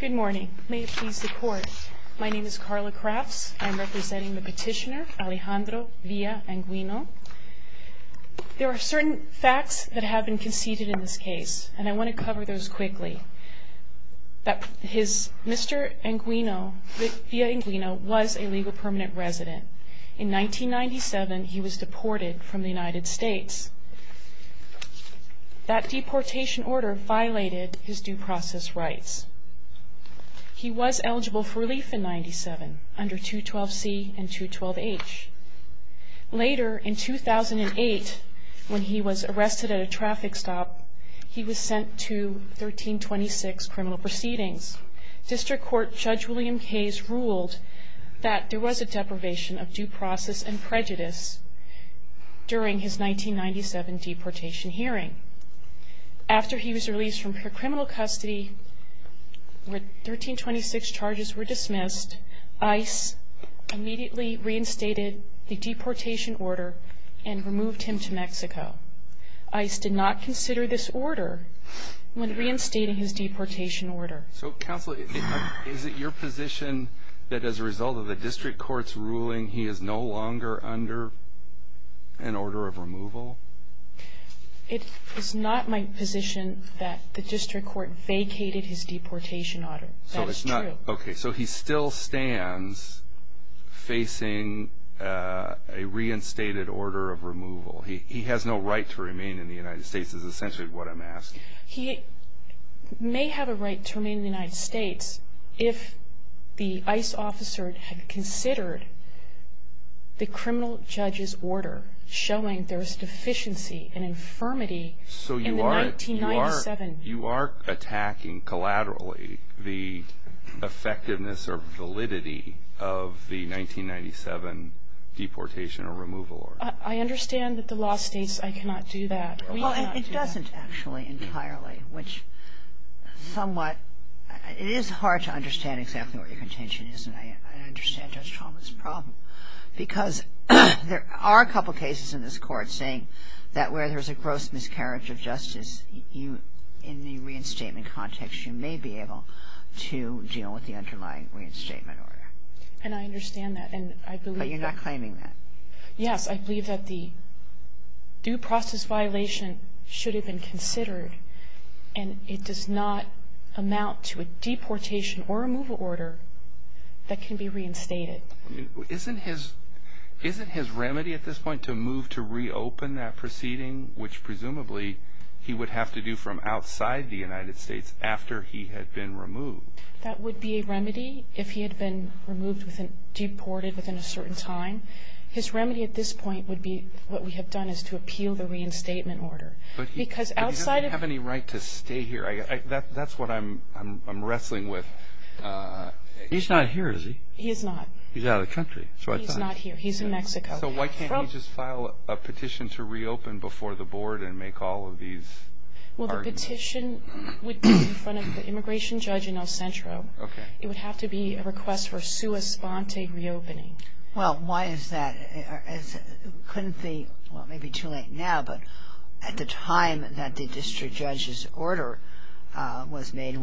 Good morning. May it please the Court, my name is Carla Crafts. I'm representing the petitioner Alejandro Villa-Anguiano. There are certain facts that have been conceded in this case and I want to cover those quickly. Mr. Villa-Anguiano was a legal permanent resident. In 1997 he was deported from the United States. That deportation order violated his due process rights. He was eligible for relief in 1997 under 212C and 212H. Later, in 2008, when he was arrested at a traffic stop, he was sent to 1326 criminal proceedings. District Court Judge William Cays ruled that there was a deprivation of due process and prejudice during his 1997 deportation hearing. After he was released from criminal custody, when 1326 charges were dismissed, ICE immediately reinstated the deportation order and removed him to Mexico. ICE did not consider this order when reinstating his deportation order. Counsel, is it your position that as a result of the District Court's ruling, he is no longer under an order of removal? It is not my position that the District Court vacated his deportation order. That is true. Okay, so he still stands facing a reinstated order of removal. He has no right to remain in the United States is essentially what I'm asking. He may have a right to remain in the United States if the ICE officer had considered the criminal judge's order showing there is deficiency and infirmity in the 1997... effectiveness or validity of the 1997 deportation or removal order. I understand that the law states I cannot do that. Well, it doesn't actually entirely, which somewhat... It is hard to understand exactly what your contention is, and I understand Judge Chalmers' problem. Because there are a couple cases in this Court saying that where there's a gross miscarriage of justice, in the reinstatement context, you may be able to deal with the underlying reinstatement order. And I understand that, and I believe that... But you're not claiming that. Yes, I believe that the due process violation should have been considered, and it does not amount to a deportation or removal order that can be reinstated. Isn't his remedy at this point to move to reopen that proceeding, which presumably he would have to do from outside the United States after he had been removed? That would be a remedy if he had been removed, deported within a certain time. His remedy at this point would be what we have done is to appeal the reinstatement order. But he doesn't have any right to stay here. That's what I'm wrestling with. He's not here, is he? He is not. He's out of the country. He's not here. He's in Mexico. So why can't he just file a petition to reopen before the Board and make all of these arguments? Well, the petition would be in front of the immigration judge in El Centro. It would have to be a request for sua sponte reopening. Well, why is that? It couldn't be, well, it may be too late now, but at the time that the district judge's order was made,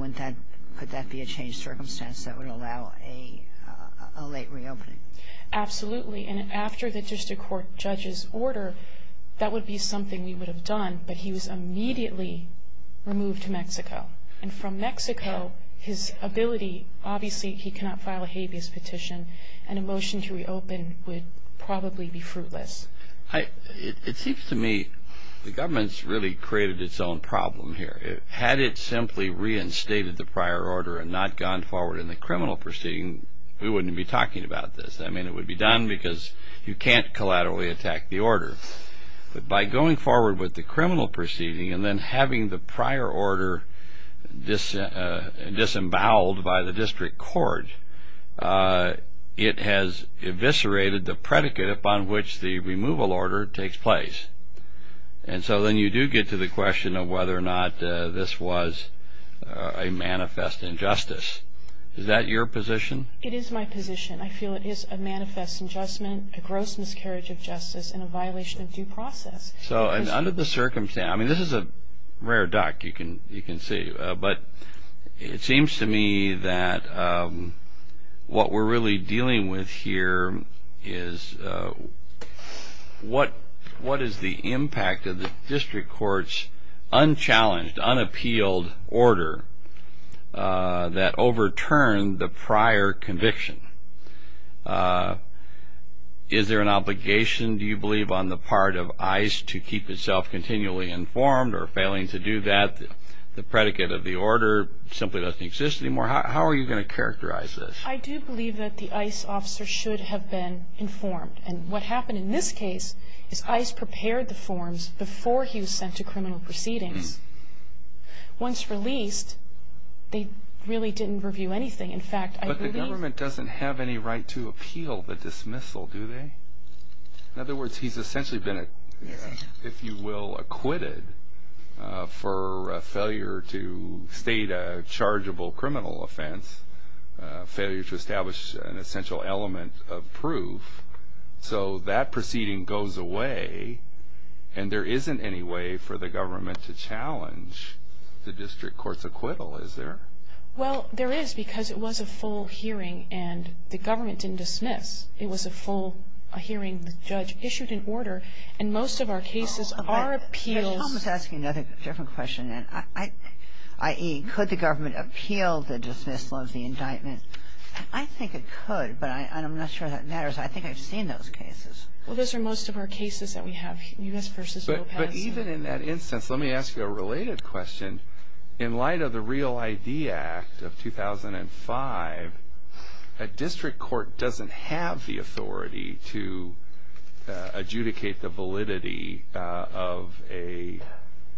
could that be a changed circumstance that would allow a late reopening? Absolutely. And after the district court judge's order, that would be something we would have done, but he was immediately removed to Mexico. And from Mexico, his ability, obviously he cannot file a habeas petition, and a motion to reopen would probably be fruitless. It seems to me the government's really created its own problem here. Had it simply reinstated the prior order and not gone forward in the criminal proceeding, we wouldn't be talking about this. I mean, it would be done because you can't collaterally attack the order. But by going forward with the criminal proceeding and then having the prior order disemboweled by the district court, it has eviscerated the predicate upon which the removal order takes place. And so then you do get to the question of whether or not this was a manifest injustice. Is that your position? It is my position. I feel it is a manifest injustice, a gross miscarriage of justice, and a violation of due process. So under the circumstance, I mean, this is a rare duck, you can see. But it seems to me that what we're really dealing with here is what is the impact of the district court's unchallenged, unappealed order that overturned the prior conviction? Is there an obligation, do you believe, on the part of ICE to keep itself continually informed or failing to do that? The predicate of the order simply doesn't exist anymore. How are you going to characterize this? I do believe that the ICE officer should have been informed. And what happened in this case is ICE prepared the forms before he was sent to criminal proceedings. Once released, they really didn't review anything. In fact, I believe the government doesn't have any right to appeal the dismissal, do they? In other words, he's essentially been, if you will, acquitted for a failure to state a chargeable criminal offense, failure to establish an essential element of proof. So that proceeding goes away, and there isn't any way for the government to challenge the district court's acquittal, is there? Well, there is, because it was a full hearing, and the government didn't dismiss. It was a full hearing. The judge issued an order, and most of our cases are appeals. I was asking another different question, i.e., could the government appeal the dismissal of the indictment? I think it could, but I'm not sure that matters. I think I've seen those cases. Well, those are most of our cases that we have, U.S. v. Lopez. But even in that instance, let me ask you a related question. In light of the Real ID Act of 2005, a district court doesn't have the authority to adjudicate the validity of a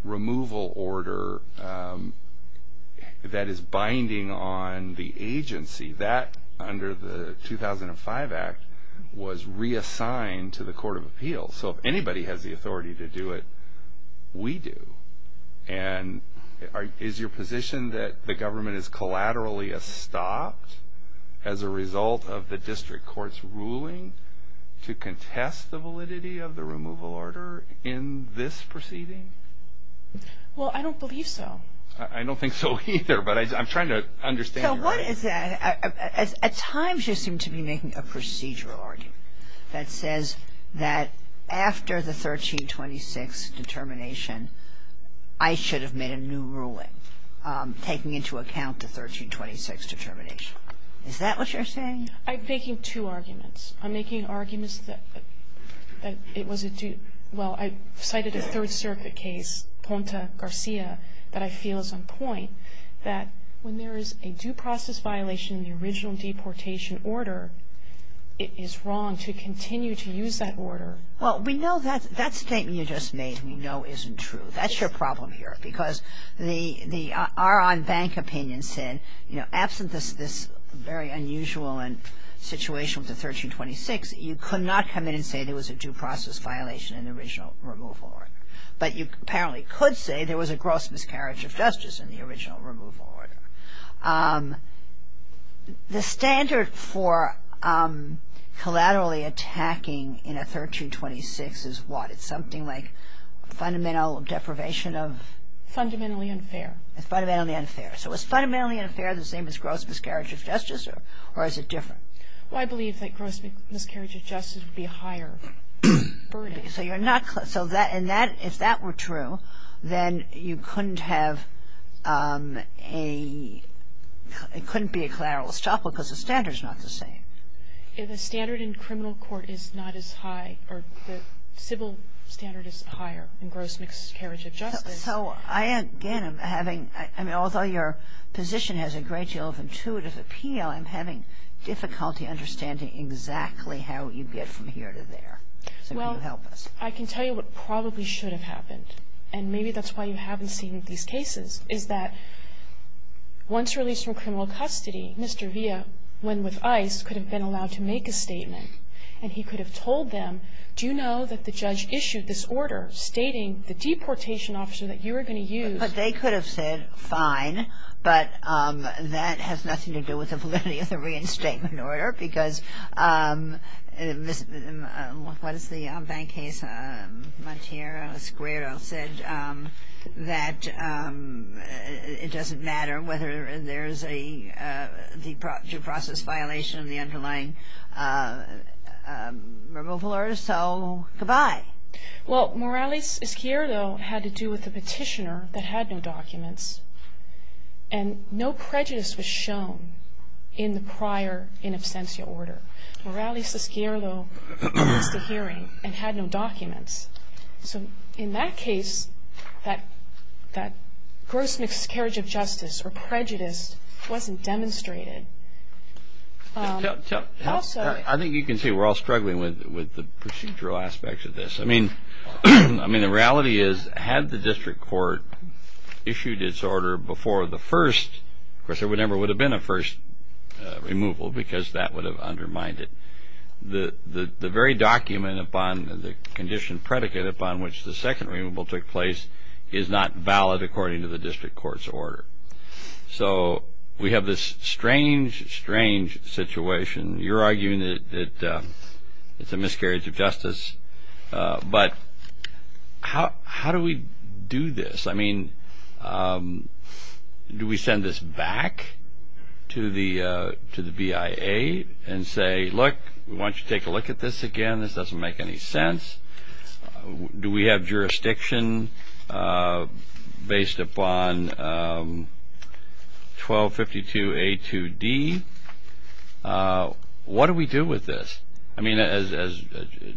removal order that is binding on the agency. That, under the 2005 Act, was reassigned to the Court of Appeals. So if anybody has the authority to do it, we do. And is your position that the government is collaterally stopped as a result of the district court's ruling to contest the validity of the removal order in this proceeding? Well, I don't believe so. I don't think so either, but I'm trying to understand your argument. What is that? At times you seem to be making a procedural argument that says that after the 1326 determination, I should have made a new ruling taking into account the 1326 determination. Is that what you're saying? I'm making two arguments. I'm making arguments that it was a due – well, I cited a Third Circuit case, Ponta Garcia, that I feel is on point, that when there is a due process violation in the original deportation order, it is wrong to continue to use that order. Well, we know that statement you just made we know isn't true. That's your problem here, because the our own bank opinion said, you know, absent this very unusual situation with the 1326, you could not come in and say there was a due process violation in the original removal order. But you apparently could say there was a gross miscarriage of justice in the original removal order. The standard for collaterally attacking in a 1326 is what? Is it something like fundamental deprivation of? Fundamentally unfair. Fundamentally unfair. So is fundamentally unfair the same as gross miscarriage of justice, or is it different? Well, I believe that gross miscarriage of justice would be a higher burden. So you're not – so that – and that – if that were true, then you couldn't have a – it couldn't be a collateral estoppel because the standard is not the same. The standard in criminal court is not as high, or the civil standard is higher in gross miscarriage of justice. So I, again, am having – I mean, although your position has a great deal of intuitive appeal, I'm having difficulty understanding exactly how you get from here to there. So can you help us? Well, I can tell you what probably should have happened, and maybe that's why you haven't seen these cases, is that once released from criminal custody, Mr. Villa, when with ICE, could have been allowed to make a statement, and he could have told them, do you know that the judge issued this order stating the deportation officer that you are going to use? But they could have said, fine, but that has nothing to do with the validity of the reinstatement order because – what is the bank case? Monteiro Esquerdo said that it doesn't matter whether there's a due process violation of the underlying removal order. So goodbye. Well, Morales Esquerdo had to do with the petitioner that had no documents, and no prejudice was shown in the prior in absentia order. Morales Esquerdo passed a hearing and had no documents. So in that case, that gross miscarriage of justice or prejudice wasn't demonstrated. I think you can see we're all struggling with the procedural aspects of this. I mean, the reality is, had the district court issued its order before the first, of course, there never would have been a first removal because that would have undermined it. The very document upon the condition predicate upon which the second removal took place is not valid according to the district court's order. So we have this strange, strange situation. You're arguing that it's a miscarriage of justice, but how do we do this? I mean, do we send this back to the BIA and say, look, we want you to take a look at this again. This doesn't make any sense. Do we have jurisdiction based upon 1252A2D? What do we do with this? I mean, as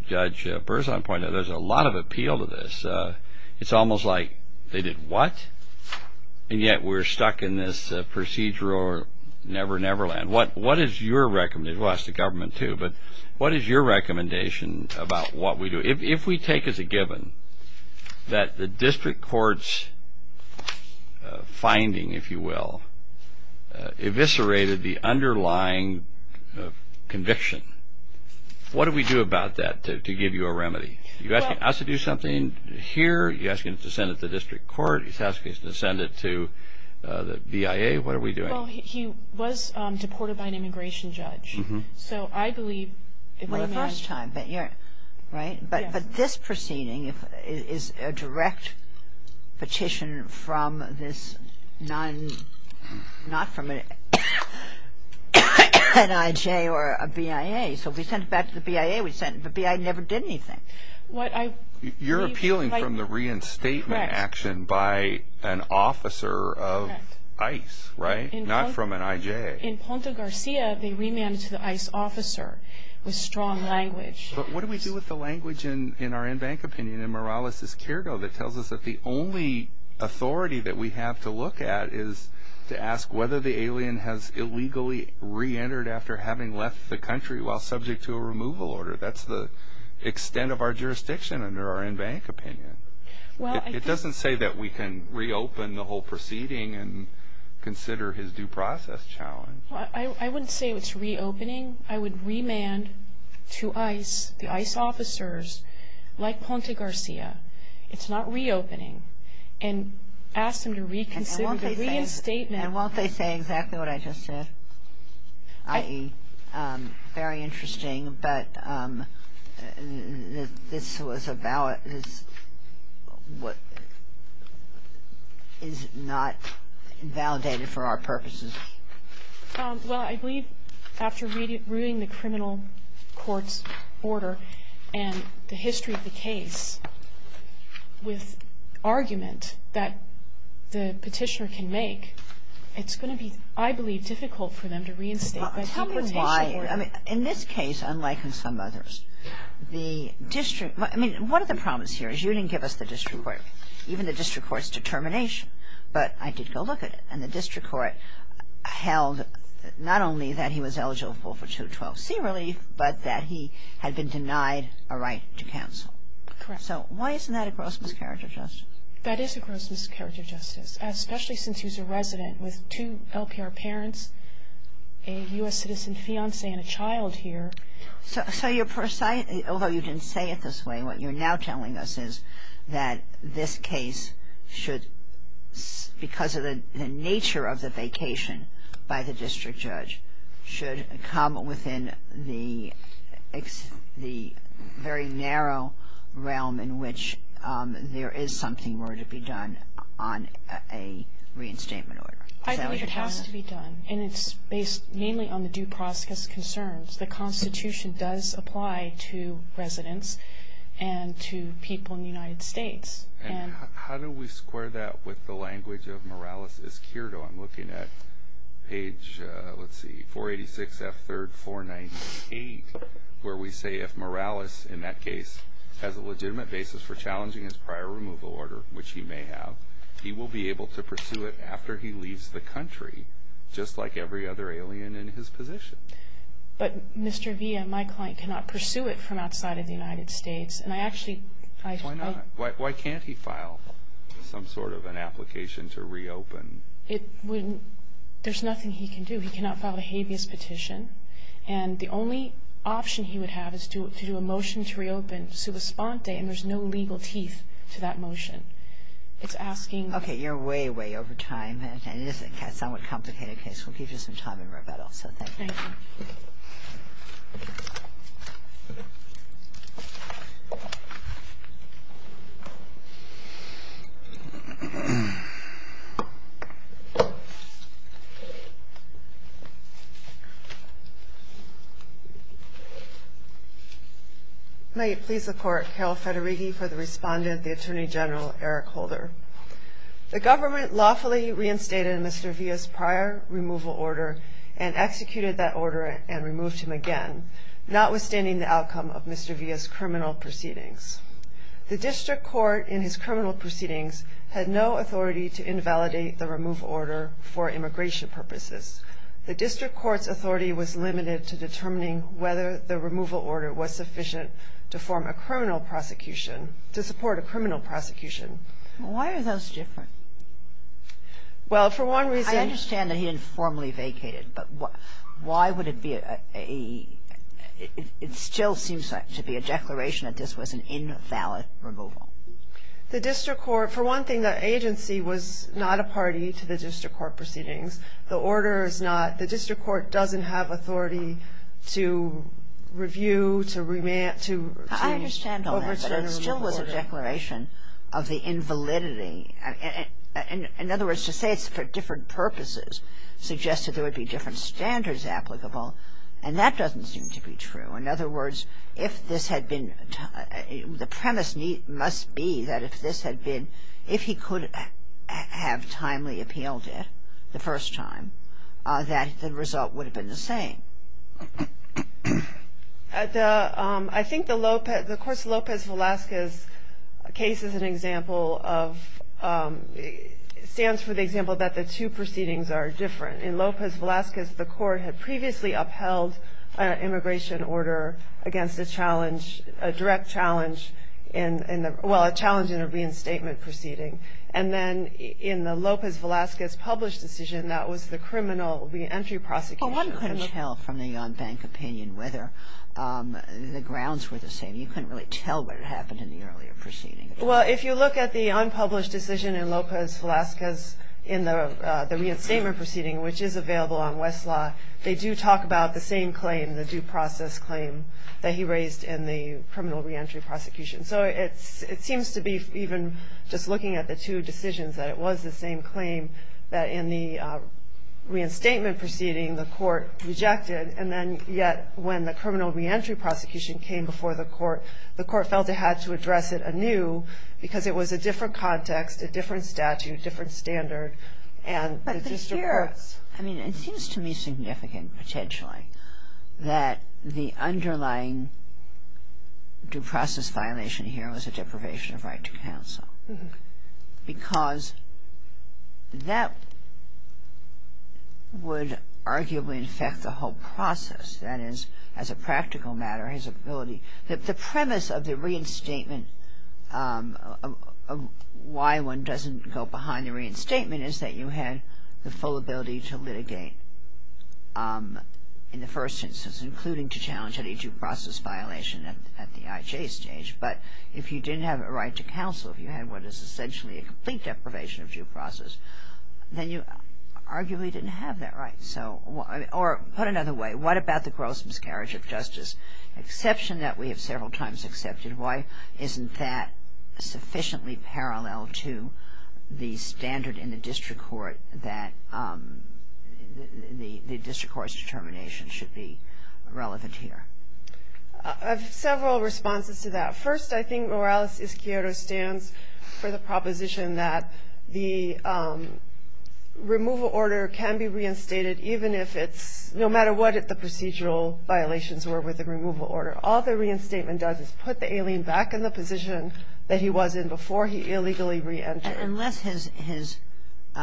Judge Berzon pointed out, there's a lot of appeal to this. It's almost like they did what, and yet we're stuck in this procedural never-never land. What is your recommendation? Well, ask the government too, but what is your recommendation about what we do? If we take as a given that the district court's finding, if you will, eviscerated the underlying conviction, what do we do about that to give you a remedy? Are you asking us to do something here? Are you asking us to send it to the district court? Are you asking us to send it to the BIA? What are we doing? Well, he was deported by an immigration judge. So I believe it was a man. Well, the first time, but you're, right? But this proceeding is a direct petition from this non, not from an NIJ or a BIA. So if we send it back to the BIA, we send it. The BIA never did anything. You're appealing from the reinstatement action by an officer of ICE, right? Not from an IJ. In Ponte Garcia, they remanded it to the ICE officer with strong language. But what do we do with the language in our in-bank opinion? And Morales is careful that tells us that the only authority that we have to look at is to ask whether the alien has illegally reentered after having left the country while subject to a removal order. That's the extent of our jurisdiction under our in-bank opinion. It doesn't say that we can reopen the whole proceeding and consider his due process challenge. I wouldn't say it's reopening. I would remand to ICE, the ICE officers, like Ponte Garcia, it's not reopening, and ask them to reconsider the reinstatement. And won't they say exactly what I just said? Very interesting, but this is not validated for our purposes. Well, I believe after reading the criminal court's order and the history of the case with argument that the petitioner can make, it's going to be, I believe, difficult for them to reinstate that deportation order. Tell me why. I mean, in this case, unlike in some others, the district – I mean, one of the problems here is you didn't give us the district court, even the district court's determination, but I did go look at it. And the district court held not only that he was eligible for 212C relief, but that he had been denied a right to counsel. Correct. So why isn't that a gross miscarriage of justice? That is a gross miscarriage of justice, especially since he's a resident with two LPR parents, a U.S. citizen fiancé, and a child here. So you're – although you didn't say it this way, what you're now telling us is that this case should, because of the nature of the vacation by the district judge, should come within the very narrow realm in which there is something more to be done on a reinstatement order. I believe it has to be done, and it's based mainly on the due process concerns. The Constitution does apply to residents and to people in the United States. And how do we square that with the language of Morales-Escurdo? I'm looking at page – let's see – 486F3-498, where we say if Morales, in that case, has a legitimate basis for challenging his prior removal order, which he may have, he will be able to pursue it after he leaves the country, just like every other alien in his position. But Mr. Villa, my client, cannot pursue it from outside of the United States. And I actually – Why not? Why can't he file some sort of an application to reopen? There's nothing he can do. He cannot file a habeas petition. And the only option he would have is to do a motion to reopen subspante, and there's no legal teeth to that motion. It's asking – Okay. You're way, way over time. And it is a somewhat complicated case. We'll give you some time in rebuttal. So thank you. Thank you. May it please the Court, Carol Federighi for the respondent, the Attorney General, Eric Holder. The government lawfully reinstated Mr. Villa's prior removal order and executed that order and removed him again, notwithstanding the outcome of Mr. Villa's criminal proceedings. The district court in his criminal proceedings had no authority to invalidate the removal order for immigration purposes. The district court's authority was limited to determining whether the removal order was sufficient to form a criminal prosecution, to support a criminal prosecution. Why are those different? Well, for one reason – I understand that he informally vacated, but why would it be a – it still seems to be a declaration that this was an invalid removal. The district court – for one thing, the agency was not a party to the district court proceedings. The order is not – the district court doesn't have authority to review, to revamp, to – I understand all that, but it still was a declaration of the invalidity. In other words, to say it's for different purposes suggested there would be different standards applicable, and that doesn't seem to be true. In other words, if this had been – the premise must be that if this had been – if he could have timely appealed it the first time, that the result would have been the same. I think the – the course of Lopez Velazquez's case is an example of – stands for the example that the two proceedings are different. In Lopez Velazquez, the court had previously upheld an immigration order against a direct challenge in the – well, a challenge in a reinstatement proceeding. And then in the Lopez Velazquez published decision, that was the criminal reentry prosecution. Well, one couldn't tell from the bank opinion whether the grounds were the same. You couldn't really tell what had happened in the earlier proceeding. Well, if you look at the unpublished decision in Lopez Velazquez in the – the reinstatement proceeding, which is available on Westlaw, they do talk about the same claim, the due process claim, that he raised in the criminal reentry prosecution. So it seems to be, even just looking at the two decisions, that it was the same claim that in the reinstatement proceeding the court rejected, and then yet when the criminal reentry prosecution came before the court, the court felt it had to address it anew because it was a different context, a different statute, different standard. But here – I mean, it seems to me significant, potentially, that the underlying due process violation here was a deprivation of right to counsel because that would arguably affect the whole process. That is, as a practical matter, his ability – the premise of the reinstatement, why one doesn't go behind the reinstatement, is that you had the full ability to litigate in the first instance, including to challenge any due process violation at the IJ stage. But if you didn't have a right to counsel, if you had what is essentially a complete deprivation of due process, then you arguably didn't have that right. So – or put another way, what about the gross miscarriage of justice? Exception that we have several times accepted. Why isn't that sufficiently parallel to the standard in the district court that the district court's determination should be relevant here? I have several responses to that. First, I think Morales-Izquierdo stands for the proposition that the removal order can be reinstated even if it's – no matter what the procedural violations were with the removal order. All the reinstatement does is put the alien back in the position that he was in before he illegally reentered. Unless his –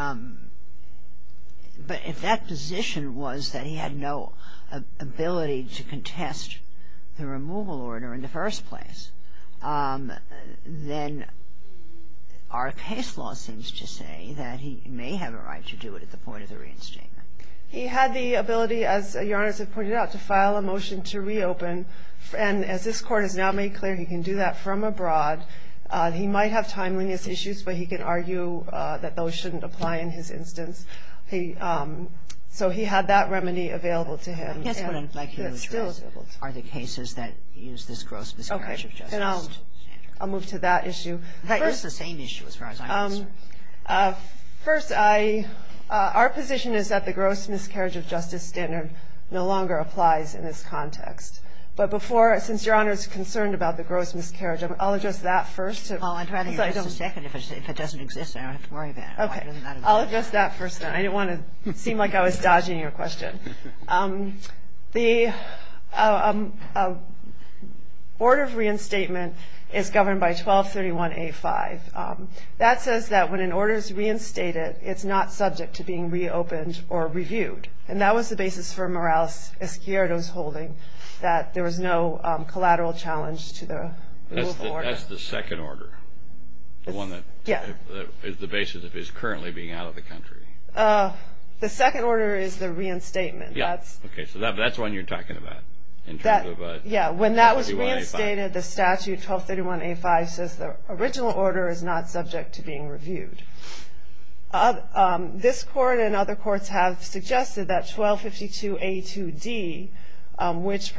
but if that position was that he had no ability to contest the removal order in the first place, then our case law seems to say that he may have a right to do it at the point of the reinstatement. He had the ability, as Your Honor has pointed out, to file a motion to reopen. And as this Court has now made clear, he can do that from abroad. He might have timeliness issues, but he can argue that those shouldn't apply in his instance. So he had that remedy available to him. I guess what I'd like to know is, are the cases that use this gross miscarriage of justice standard? Okay. And I'll move to that issue. It's the same issue as far as I'm concerned. First, I – our position is that the gross miscarriage of justice standard no longer applies in this context. But before – since Your Honor is concerned about the gross miscarriage, I'll address that first. Paul, I'm trying to hear this in a second. If it doesn't exist, I don't have to worry about it. Okay. I'll address that first, then. I didn't want to seem like I was dodging your question. The order of reinstatement is governed by 1231A5. That says that when an order is reinstated, it's not subject to being reopened or reviewed. And that was the basis for Morales-Escuero's holding, that there was no collateral challenge to the rule of order. That's the second order, the one that is the basis of his currently being out of the country. The second order is the reinstatement. Yeah. Okay. So that's the one you're talking about in terms of 1231A5. Yeah. When that was reinstated, the statute, 1231A5, says the original order is not subject to being reviewed. This Court and other courts have suggested that 1252A2D, which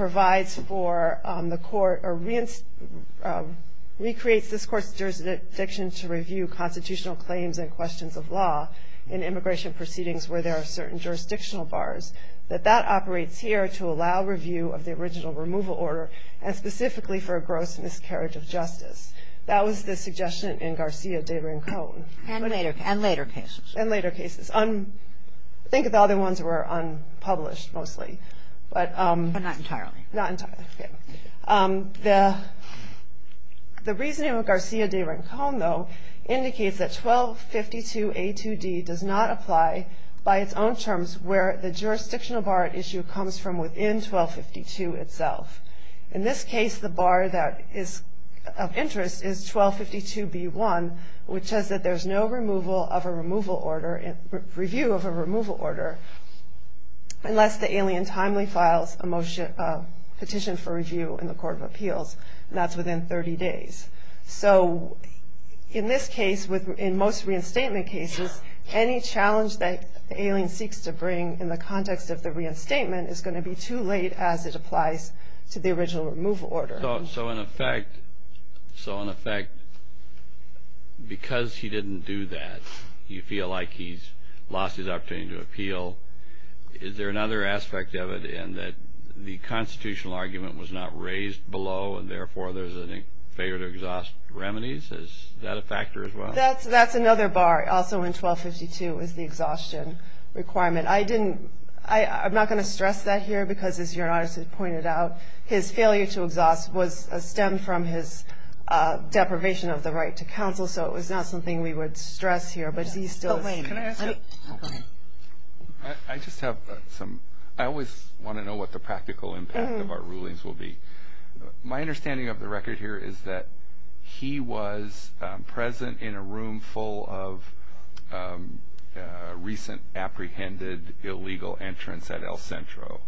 recreates this Court's jurisdiction to review constitutional claims and questions of law in immigration proceedings where there are certain jurisdictional bars, that that operates here to allow review of the original removal order and specifically for a gross miscarriage of justice. That was the suggestion in Garcia de Rincon. And later cases. And later cases. I think the other ones were unpublished mostly. But not entirely. Not entirely. The reasoning of Garcia de Rincon, though, indicates that 1252A2D does not apply by its own terms where the jurisdictional bar at issue comes from within 1252 itself. In this case, the bar that is of interest is 1252B1, which says that there's no review of a removal order unless the alien timely files a petition for review in the Court of Appeals. And that's within 30 days. So in this case, in most reinstatement cases, any challenge that the alien seeks to bring in the context of the reinstatement is going to be too late as it applies to the original removal order. So in effect, because he didn't do that, you feel like he's lost his opportunity to appeal. Is there another aspect of it in that the constitutional argument was not raised below and therefore there's a failure to exhaust remedies? Is that a factor as well? That's another bar. Also in 1252 is the exhaustion requirement. I'm not going to stress that here because, as Your Honor has pointed out, his failure to exhaust was stemmed from his deprivation of the right to counsel, so it was not something we would stress here. But he still is. Can I ask you a question? I just have some. I always want to know what the practical impact of our rulings will be. My understanding of the record here is that he was present in a room full of recent apprehended illegal entrants at El Centro,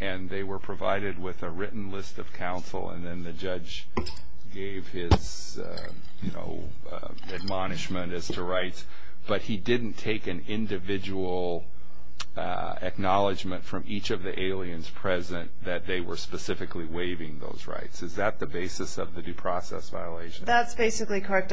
and they were provided with a written list of counsel, and then the judge gave his admonishment as to rights, but he didn't take an individual acknowledgement from each of the aliens present that they were specifically waiving those rights. Is that the basis of the due process violation? That's basically correct.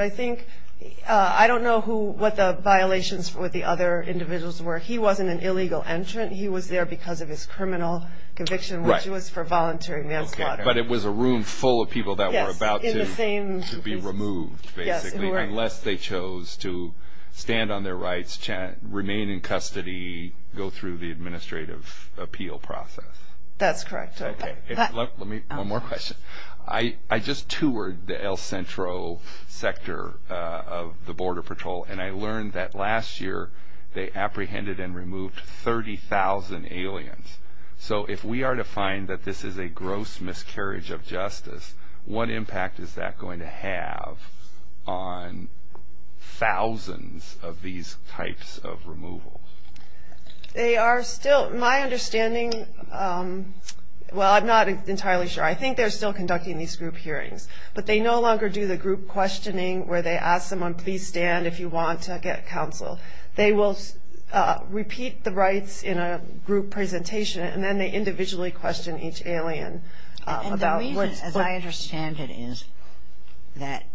I don't know what the violations with the other individuals were. He wasn't an illegal entrant. He was there because of his criminal conviction, which was for voluntary manslaughter. But it was a room full of people that were about to be removed, basically, unless they chose to stand on their rights, remain in custody, go through the administrative appeal process. That's correct. One more question. I just toured the El Centro sector of the Border Patrol, and I learned that last year they apprehended and removed 30,000 aliens. So if we are to find that this is a gross miscarriage of justice, what impact is that going to have on thousands of these types of removal? They are still, my understanding, well, I'm not entirely sure. I think they're still conducting these group hearings, but they no longer do the group questioning where they ask someone, please stand if you want to get counsel. They will repeat the rights in a group presentation, and then they individually question each alien. And the reason, as I understand it, is that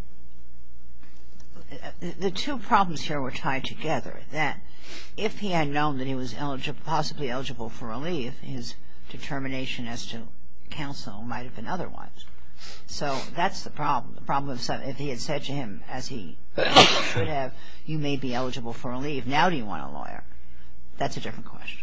the two problems here were tied together, that if he had known that he was possibly eligible for relief, his determination as to counsel might have been otherwise. So that's the problem, if he had said to him, as he should have, you may be eligible for relief, now do you want a lawyer? That's a different question.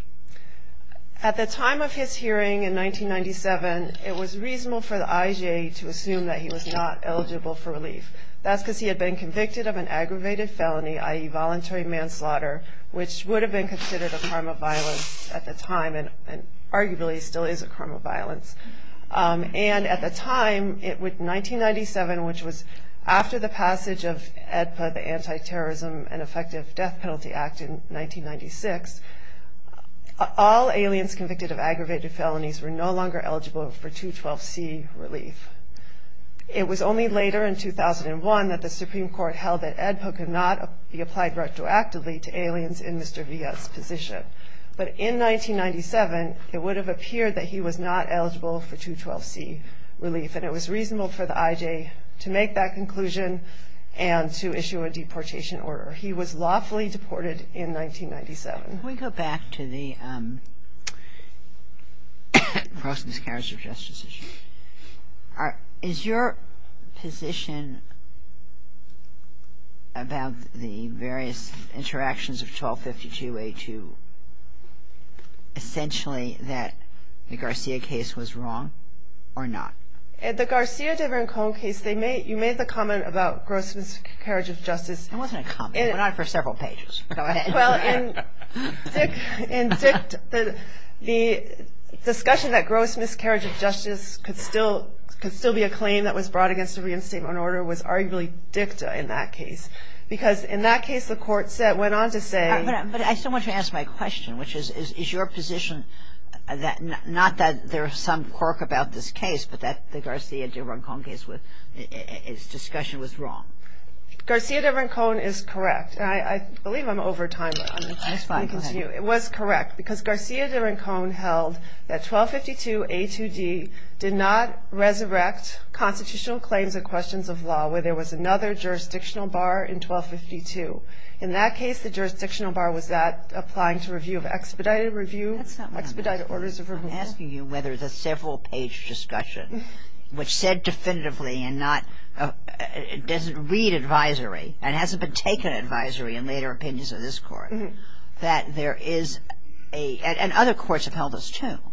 At the time of his hearing in 1997, it was reasonable for the IJA to assume that he was not eligible for relief. That's because he had been convicted of an aggravated felony, i.e. voluntary manslaughter, which would have been considered a crime of violence at the time, and arguably still is a crime of violence. And at the time, 1997, which was after the passage of AEDPA, the Anti-Terrorism and Effective Death Penalty Act in 1996, all aliens convicted of aggravated felonies were no longer eligible for 212C relief. It was only later, in 2001, that the Supreme Court held that AEDPA could not be applied retroactively to aliens in Mr. Villa's position. But in 1997, it would have appeared that he was not eligible for 212C relief, and it was reasonable for the IJA to make that conclusion and to issue a deportation order. He was lawfully deported in 1997. When we go back to the gross miscarriage of justice issue, is your position about the various interactions of 1252A2 essentially that the Garcia case was wrong or not? In the Garcia de Vincone case, you made the comment about gross miscarriage of justice. It wasn't a comment. It went on for several pages. Go ahead. Well, in DICT, the discussion that gross miscarriage of justice could still be a claim that was brought against a reinstatement order was arguably DICTA in that case because in that case, the court went on to say – But I still want to ask my question, which is, is your position not that there is some quirk about this case, but that the Garcia de Vincone case, its discussion was wrong? Garcia de Vincone is correct. I believe I'm over time. That's fine. Go ahead. It was correct because Garcia de Vincone held that 1252A2D did not resurrect constitutional claims and questions of law where there was another jurisdictional bar in 1252. In that case, the jurisdictional bar was that applying to review of expedited review. That's not what I'm asking. Expedited orders of review. I'm asking you whether the several-page discussion, which said definitively and doesn't read advisory and hasn't been taken advisory in later opinions of this Court, that there is a – and other courts have held this too –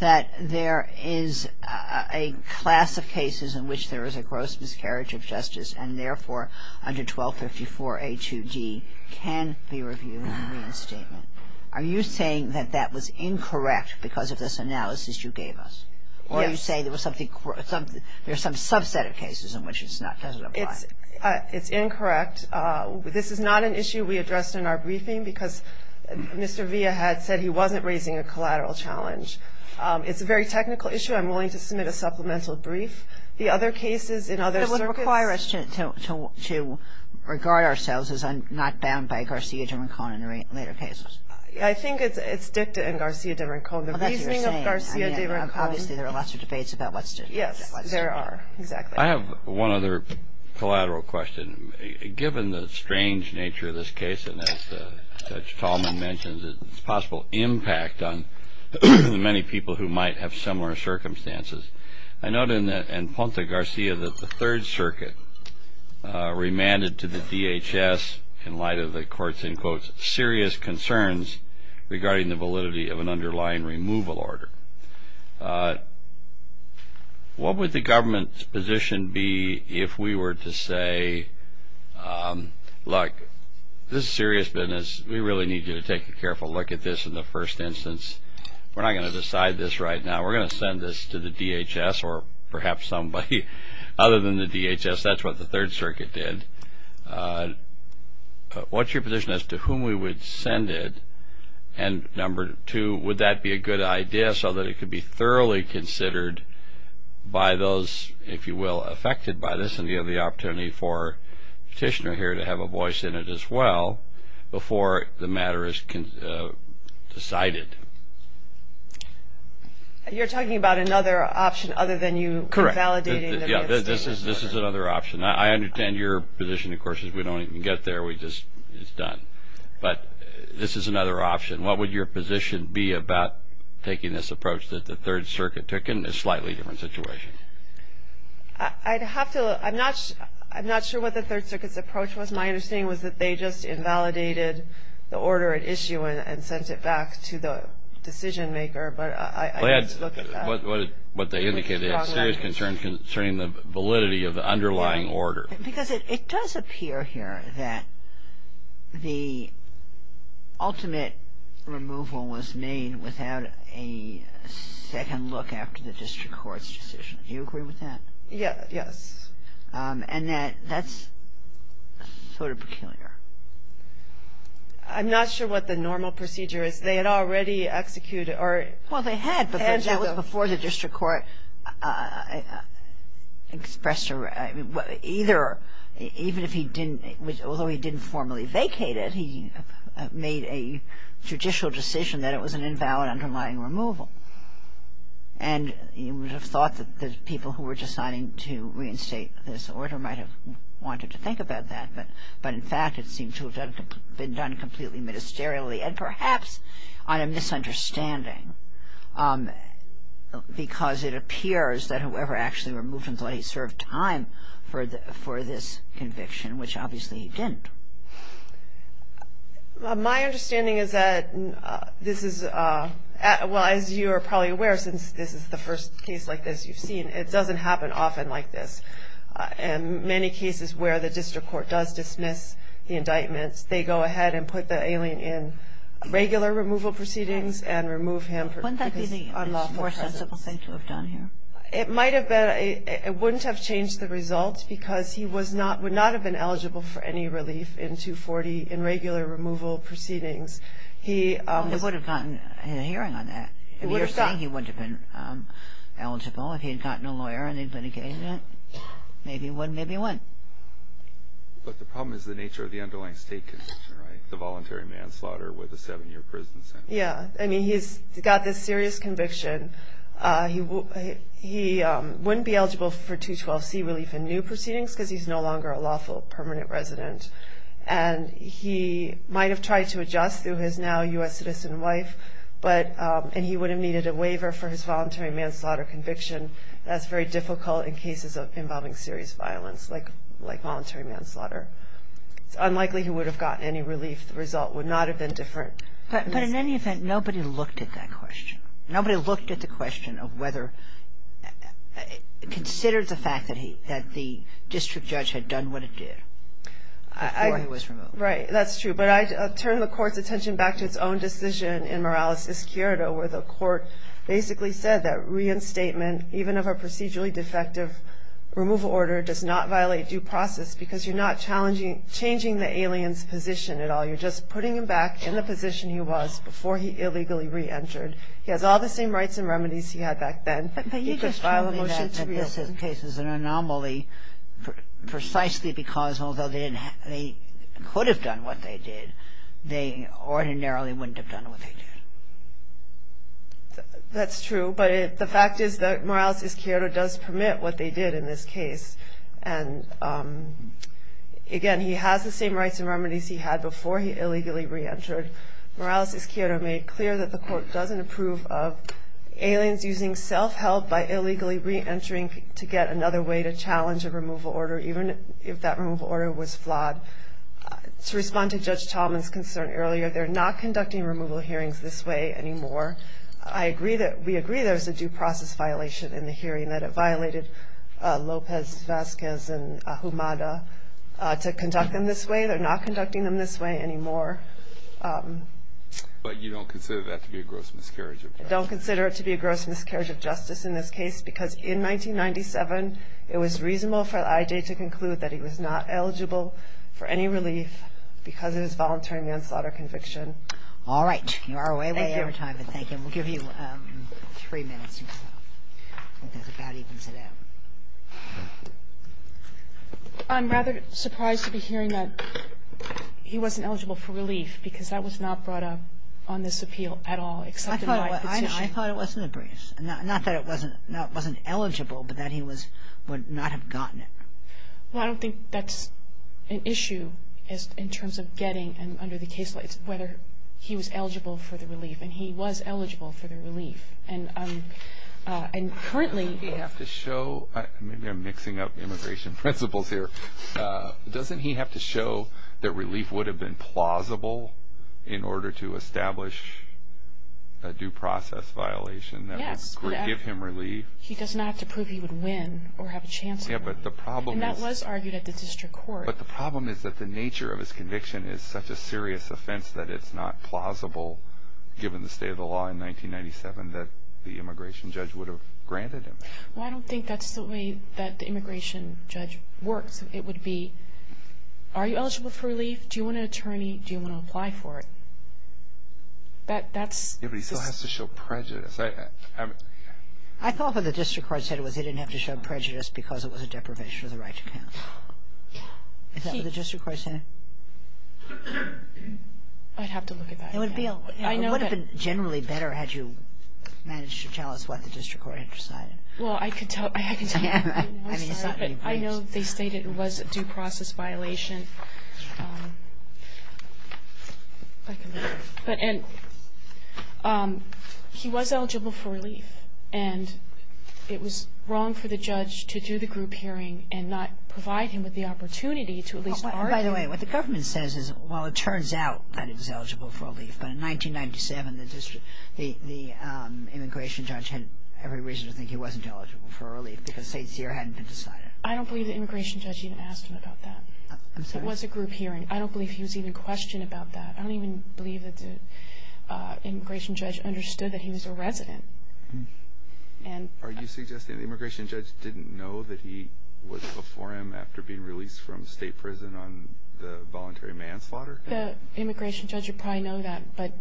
that there is a class of cases in which there is a gross miscarriage of justice and therefore under 1254A2D can be reviewed in reinstatement. Are you saying that that was incorrect because of this analysis you gave us? Yes. Or you say there was something – there's some subset of cases in which it doesn't apply. It's incorrect. This is not an issue we addressed in our briefing because Mr. Villa had said he wasn't raising a collateral challenge. It's a very technical issue. I'm willing to submit a supplemental brief. The other cases in other circuits – It would require us to regard ourselves as not bound by Garcia de Vincone in later cases. I think it's dicta in Garcia de Vincone. Well, that's what you're saying. Obviously, there are lots of debates about what's – Yes, there are. Exactly. I have one other collateral question. Given the strange nature of this case, and as Judge Tallman mentions its possible impact on the many people who might have similar circumstances, I note in Punta Garcia that the Third Circuit remanded to the DHS in light of the court's, in quotes, serious concerns regarding the validity of an underlying removal order. What would the government's position be if we were to say, look, this is serious business. We really need you to take a careful look at this in the first instance. We're not going to decide this right now. We're going to send this to the DHS or perhaps somebody other than the DHS. That's what the Third Circuit did. What's your position as to whom we would send it, and number two, would that be a good idea so that it could be thoroughly considered by those, if you will, affected by this, and you have the opportunity for a petitioner here to have a voice in it as well before the matter is decided? You're talking about another option other than you validating it? Correct. This is another option. I understand your position, of course, is we don't even get there. It's done. But this is another option. What would your position be about taking this approach that the Third Circuit took in a slightly different situation? I'd have to look. I'm not sure what the Third Circuit's approach was. My understanding was that they just invalidated the order at issue and sent it back to the decision maker, but I'd have to look at that. What they indicated is serious concern concerning the validity of the underlying order. Because it does appear here that the ultimate removal was made without a second look after the district court's decision. Do you agree with that? Yes. And that's sort of peculiar. I'm not sure what the normal procedure is. Well, they had. That was before the district court expressed either, even if he didn't, although he didn't formally vacate it, he made a judicial decision that it was an invalid underlying removal. And you would have thought that the people who were deciding to reinstate this order might have wanted to think about that. But in fact, it seemed to have been done completely ministerially. And perhaps on a misunderstanding. Because it appears that whoever actually removed him thought he served time for this conviction, which obviously he didn't. My understanding is that this is, well, as you are probably aware, since this is the first case like this you've seen, it doesn't happen often like this. In many cases where the district court does dismiss the indictments, they go ahead and put the alien in regular removal proceedings and remove him because of unlawful presence. Wouldn't that be the most sensible thing to have done here? It might have been. It wouldn't have changed the result because he would not have been eligible for any relief in 240 in regular removal proceedings. He would have gotten a hearing on that. You're saying he wouldn't have been eligible if he had gotten a lawyer and they had litigated it? Maybe one, maybe one. But the problem is the nature of the underlying state conviction, right? The voluntary manslaughter with a seven-year prison sentence. Yeah. I mean, he's got this serious conviction. He wouldn't be eligible for 212C relief in new proceedings because he's no longer a lawful permanent resident. And he might have tried to adjust through his now U.S. citizen wife, and he would have needed a waiver for his voluntary manslaughter conviction. That's very difficult in cases involving serious violence like voluntary manslaughter. It's unlikely he would have gotten any relief. The result would not have been different. But in any event, nobody looked at that question. Nobody looked at the question of whether, considered the fact that the district judge had done what it did before he was removed. Right. That's true. But I turn the Court's attention back to its own decision in Morales-Escuero where the Court basically said that reinstatement, even of a procedurally defective removal order, does not violate due process because you're not changing the alien's position at all. You're just putting him back in the position he was before he illegally reentered. He has all the same rights and remedies he had back then. But you just told me that this case is an anomaly precisely because, although they could have done what they did, they ordinarily wouldn't have done what they did. That's true. But the fact is that Morales-Escuero does permit what they did in this case. And, again, he has the same rights and remedies he had before he illegally reentered. Morales-Escuero made clear that the Court doesn't approve of aliens using self-help by illegally reentering to get another way to challenge a removal order, even if that removal order was flawed. To respond to Judge Tallman's concern earlier, they're not conducting removal hearings this way anymore. We agree there's a due process violation in the hearing, that it violated Lopez-Vazquez and Ahumada to conduct them this way. They're not conducting them this way anymore. But you don't consider that to be a gross miscarriage of justice? I don't consider it to be a gross miscarriage of justice in this case because in 1997 it was reasonable for the IJ to conclude that he was not eligible for any relief because of his voluntary manslaughter conviction. All right. You are away with your time. Thank you. We'll give you three minutes or so. I think that about evens it out. I'm rather surprised to be hearing that he wasn't eligible for relief because that was not brought up on this appeal at all, except in my position. Well, I thought it wasn't a breeze. Not that it wasn't eligible, but that he would not have gotten it. Well, I don't think that's an issue in terms of getting under the case lights whether he was eligible for the relief, and he was eligible for the relief. And currently he has to show – maybe I'm mixing up immigration principles here. Doesn't he have to show that relief would have been plausible in order to establish a due process violation that would give him relief? He does not have to prove he would win or have a chance to win. And that was argued at the district court. But the problem is that the nature of his conviction is such a serious offense that it's not plausible, given the state of the law in 1997, that the immigration judge would have granted him. Well, I don't think that's the way that the immigration judge works. It would be, are you eligible for relief? Do you want an attorney? Do you want to apply for it? But he still has to show prejudice. I thought what the district court said was he didn't have to show prejudice because it was a deprivation of the right to counsel. Is that what the district court said? I'd have to look at that again. It would have been generally better had you managed to tell us what the district court had decided. Well, I could tell you. I know they stated it was a due process violation. And he was eligible for relief. And it was wrong for the judge to do the group hearing and not provide him with the opportunity to at least argue. By the way, what the government says is, well, it turns out that he's eligible for relief. But in 1997, the immigration judge had every reason to think he wasn't eligible for relief because state's year hadn't been decided. I don't believe the immigration judge even asked him about that. It was a group hearing. I don't believe he was even questioned about that. I don't even believe that the immigration judge understood that he was a resident. Are you suggesting the immigration judge didn't know that he was before him after being released from state prison on the voluntary manslaughter? The immigration judge would probably know that. But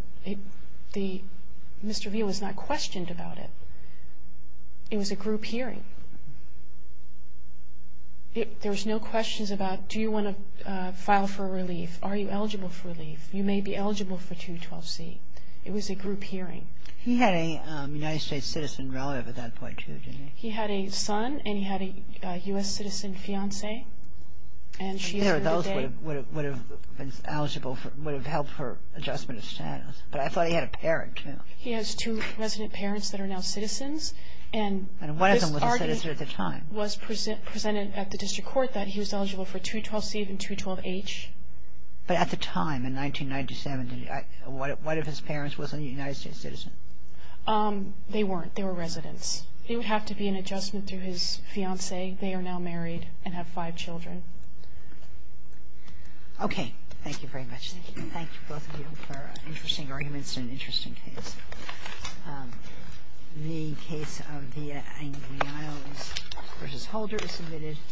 Mr. Veal was not questioned about it. It was a group hearing. There was no questions about, do you want to file for relief? Are you eligible for relief? You may be eligible for 212C. It was a group hearing. He had a United States citizen relative at that point, too, didn't he? He had a son and he had a U.S. citizen fiance. Those would have helped for adjustment of status. But I thought he had a parent, too. He has two resident parents that are now citizens. And one of them was a citizen at the time. It was presented at the district court that he was eligible for 212C and 212H. But at the time, in 1997, what if his parents wasn't a United States citizen? They weren't. They were residents. It would have to be an adjustment through his fiance. They are now married and have five children. Okay. Thank you very much. Thank you, both of you, for interesting arguments in an interesting case. The case of the Anguianos v. Holder is submitted.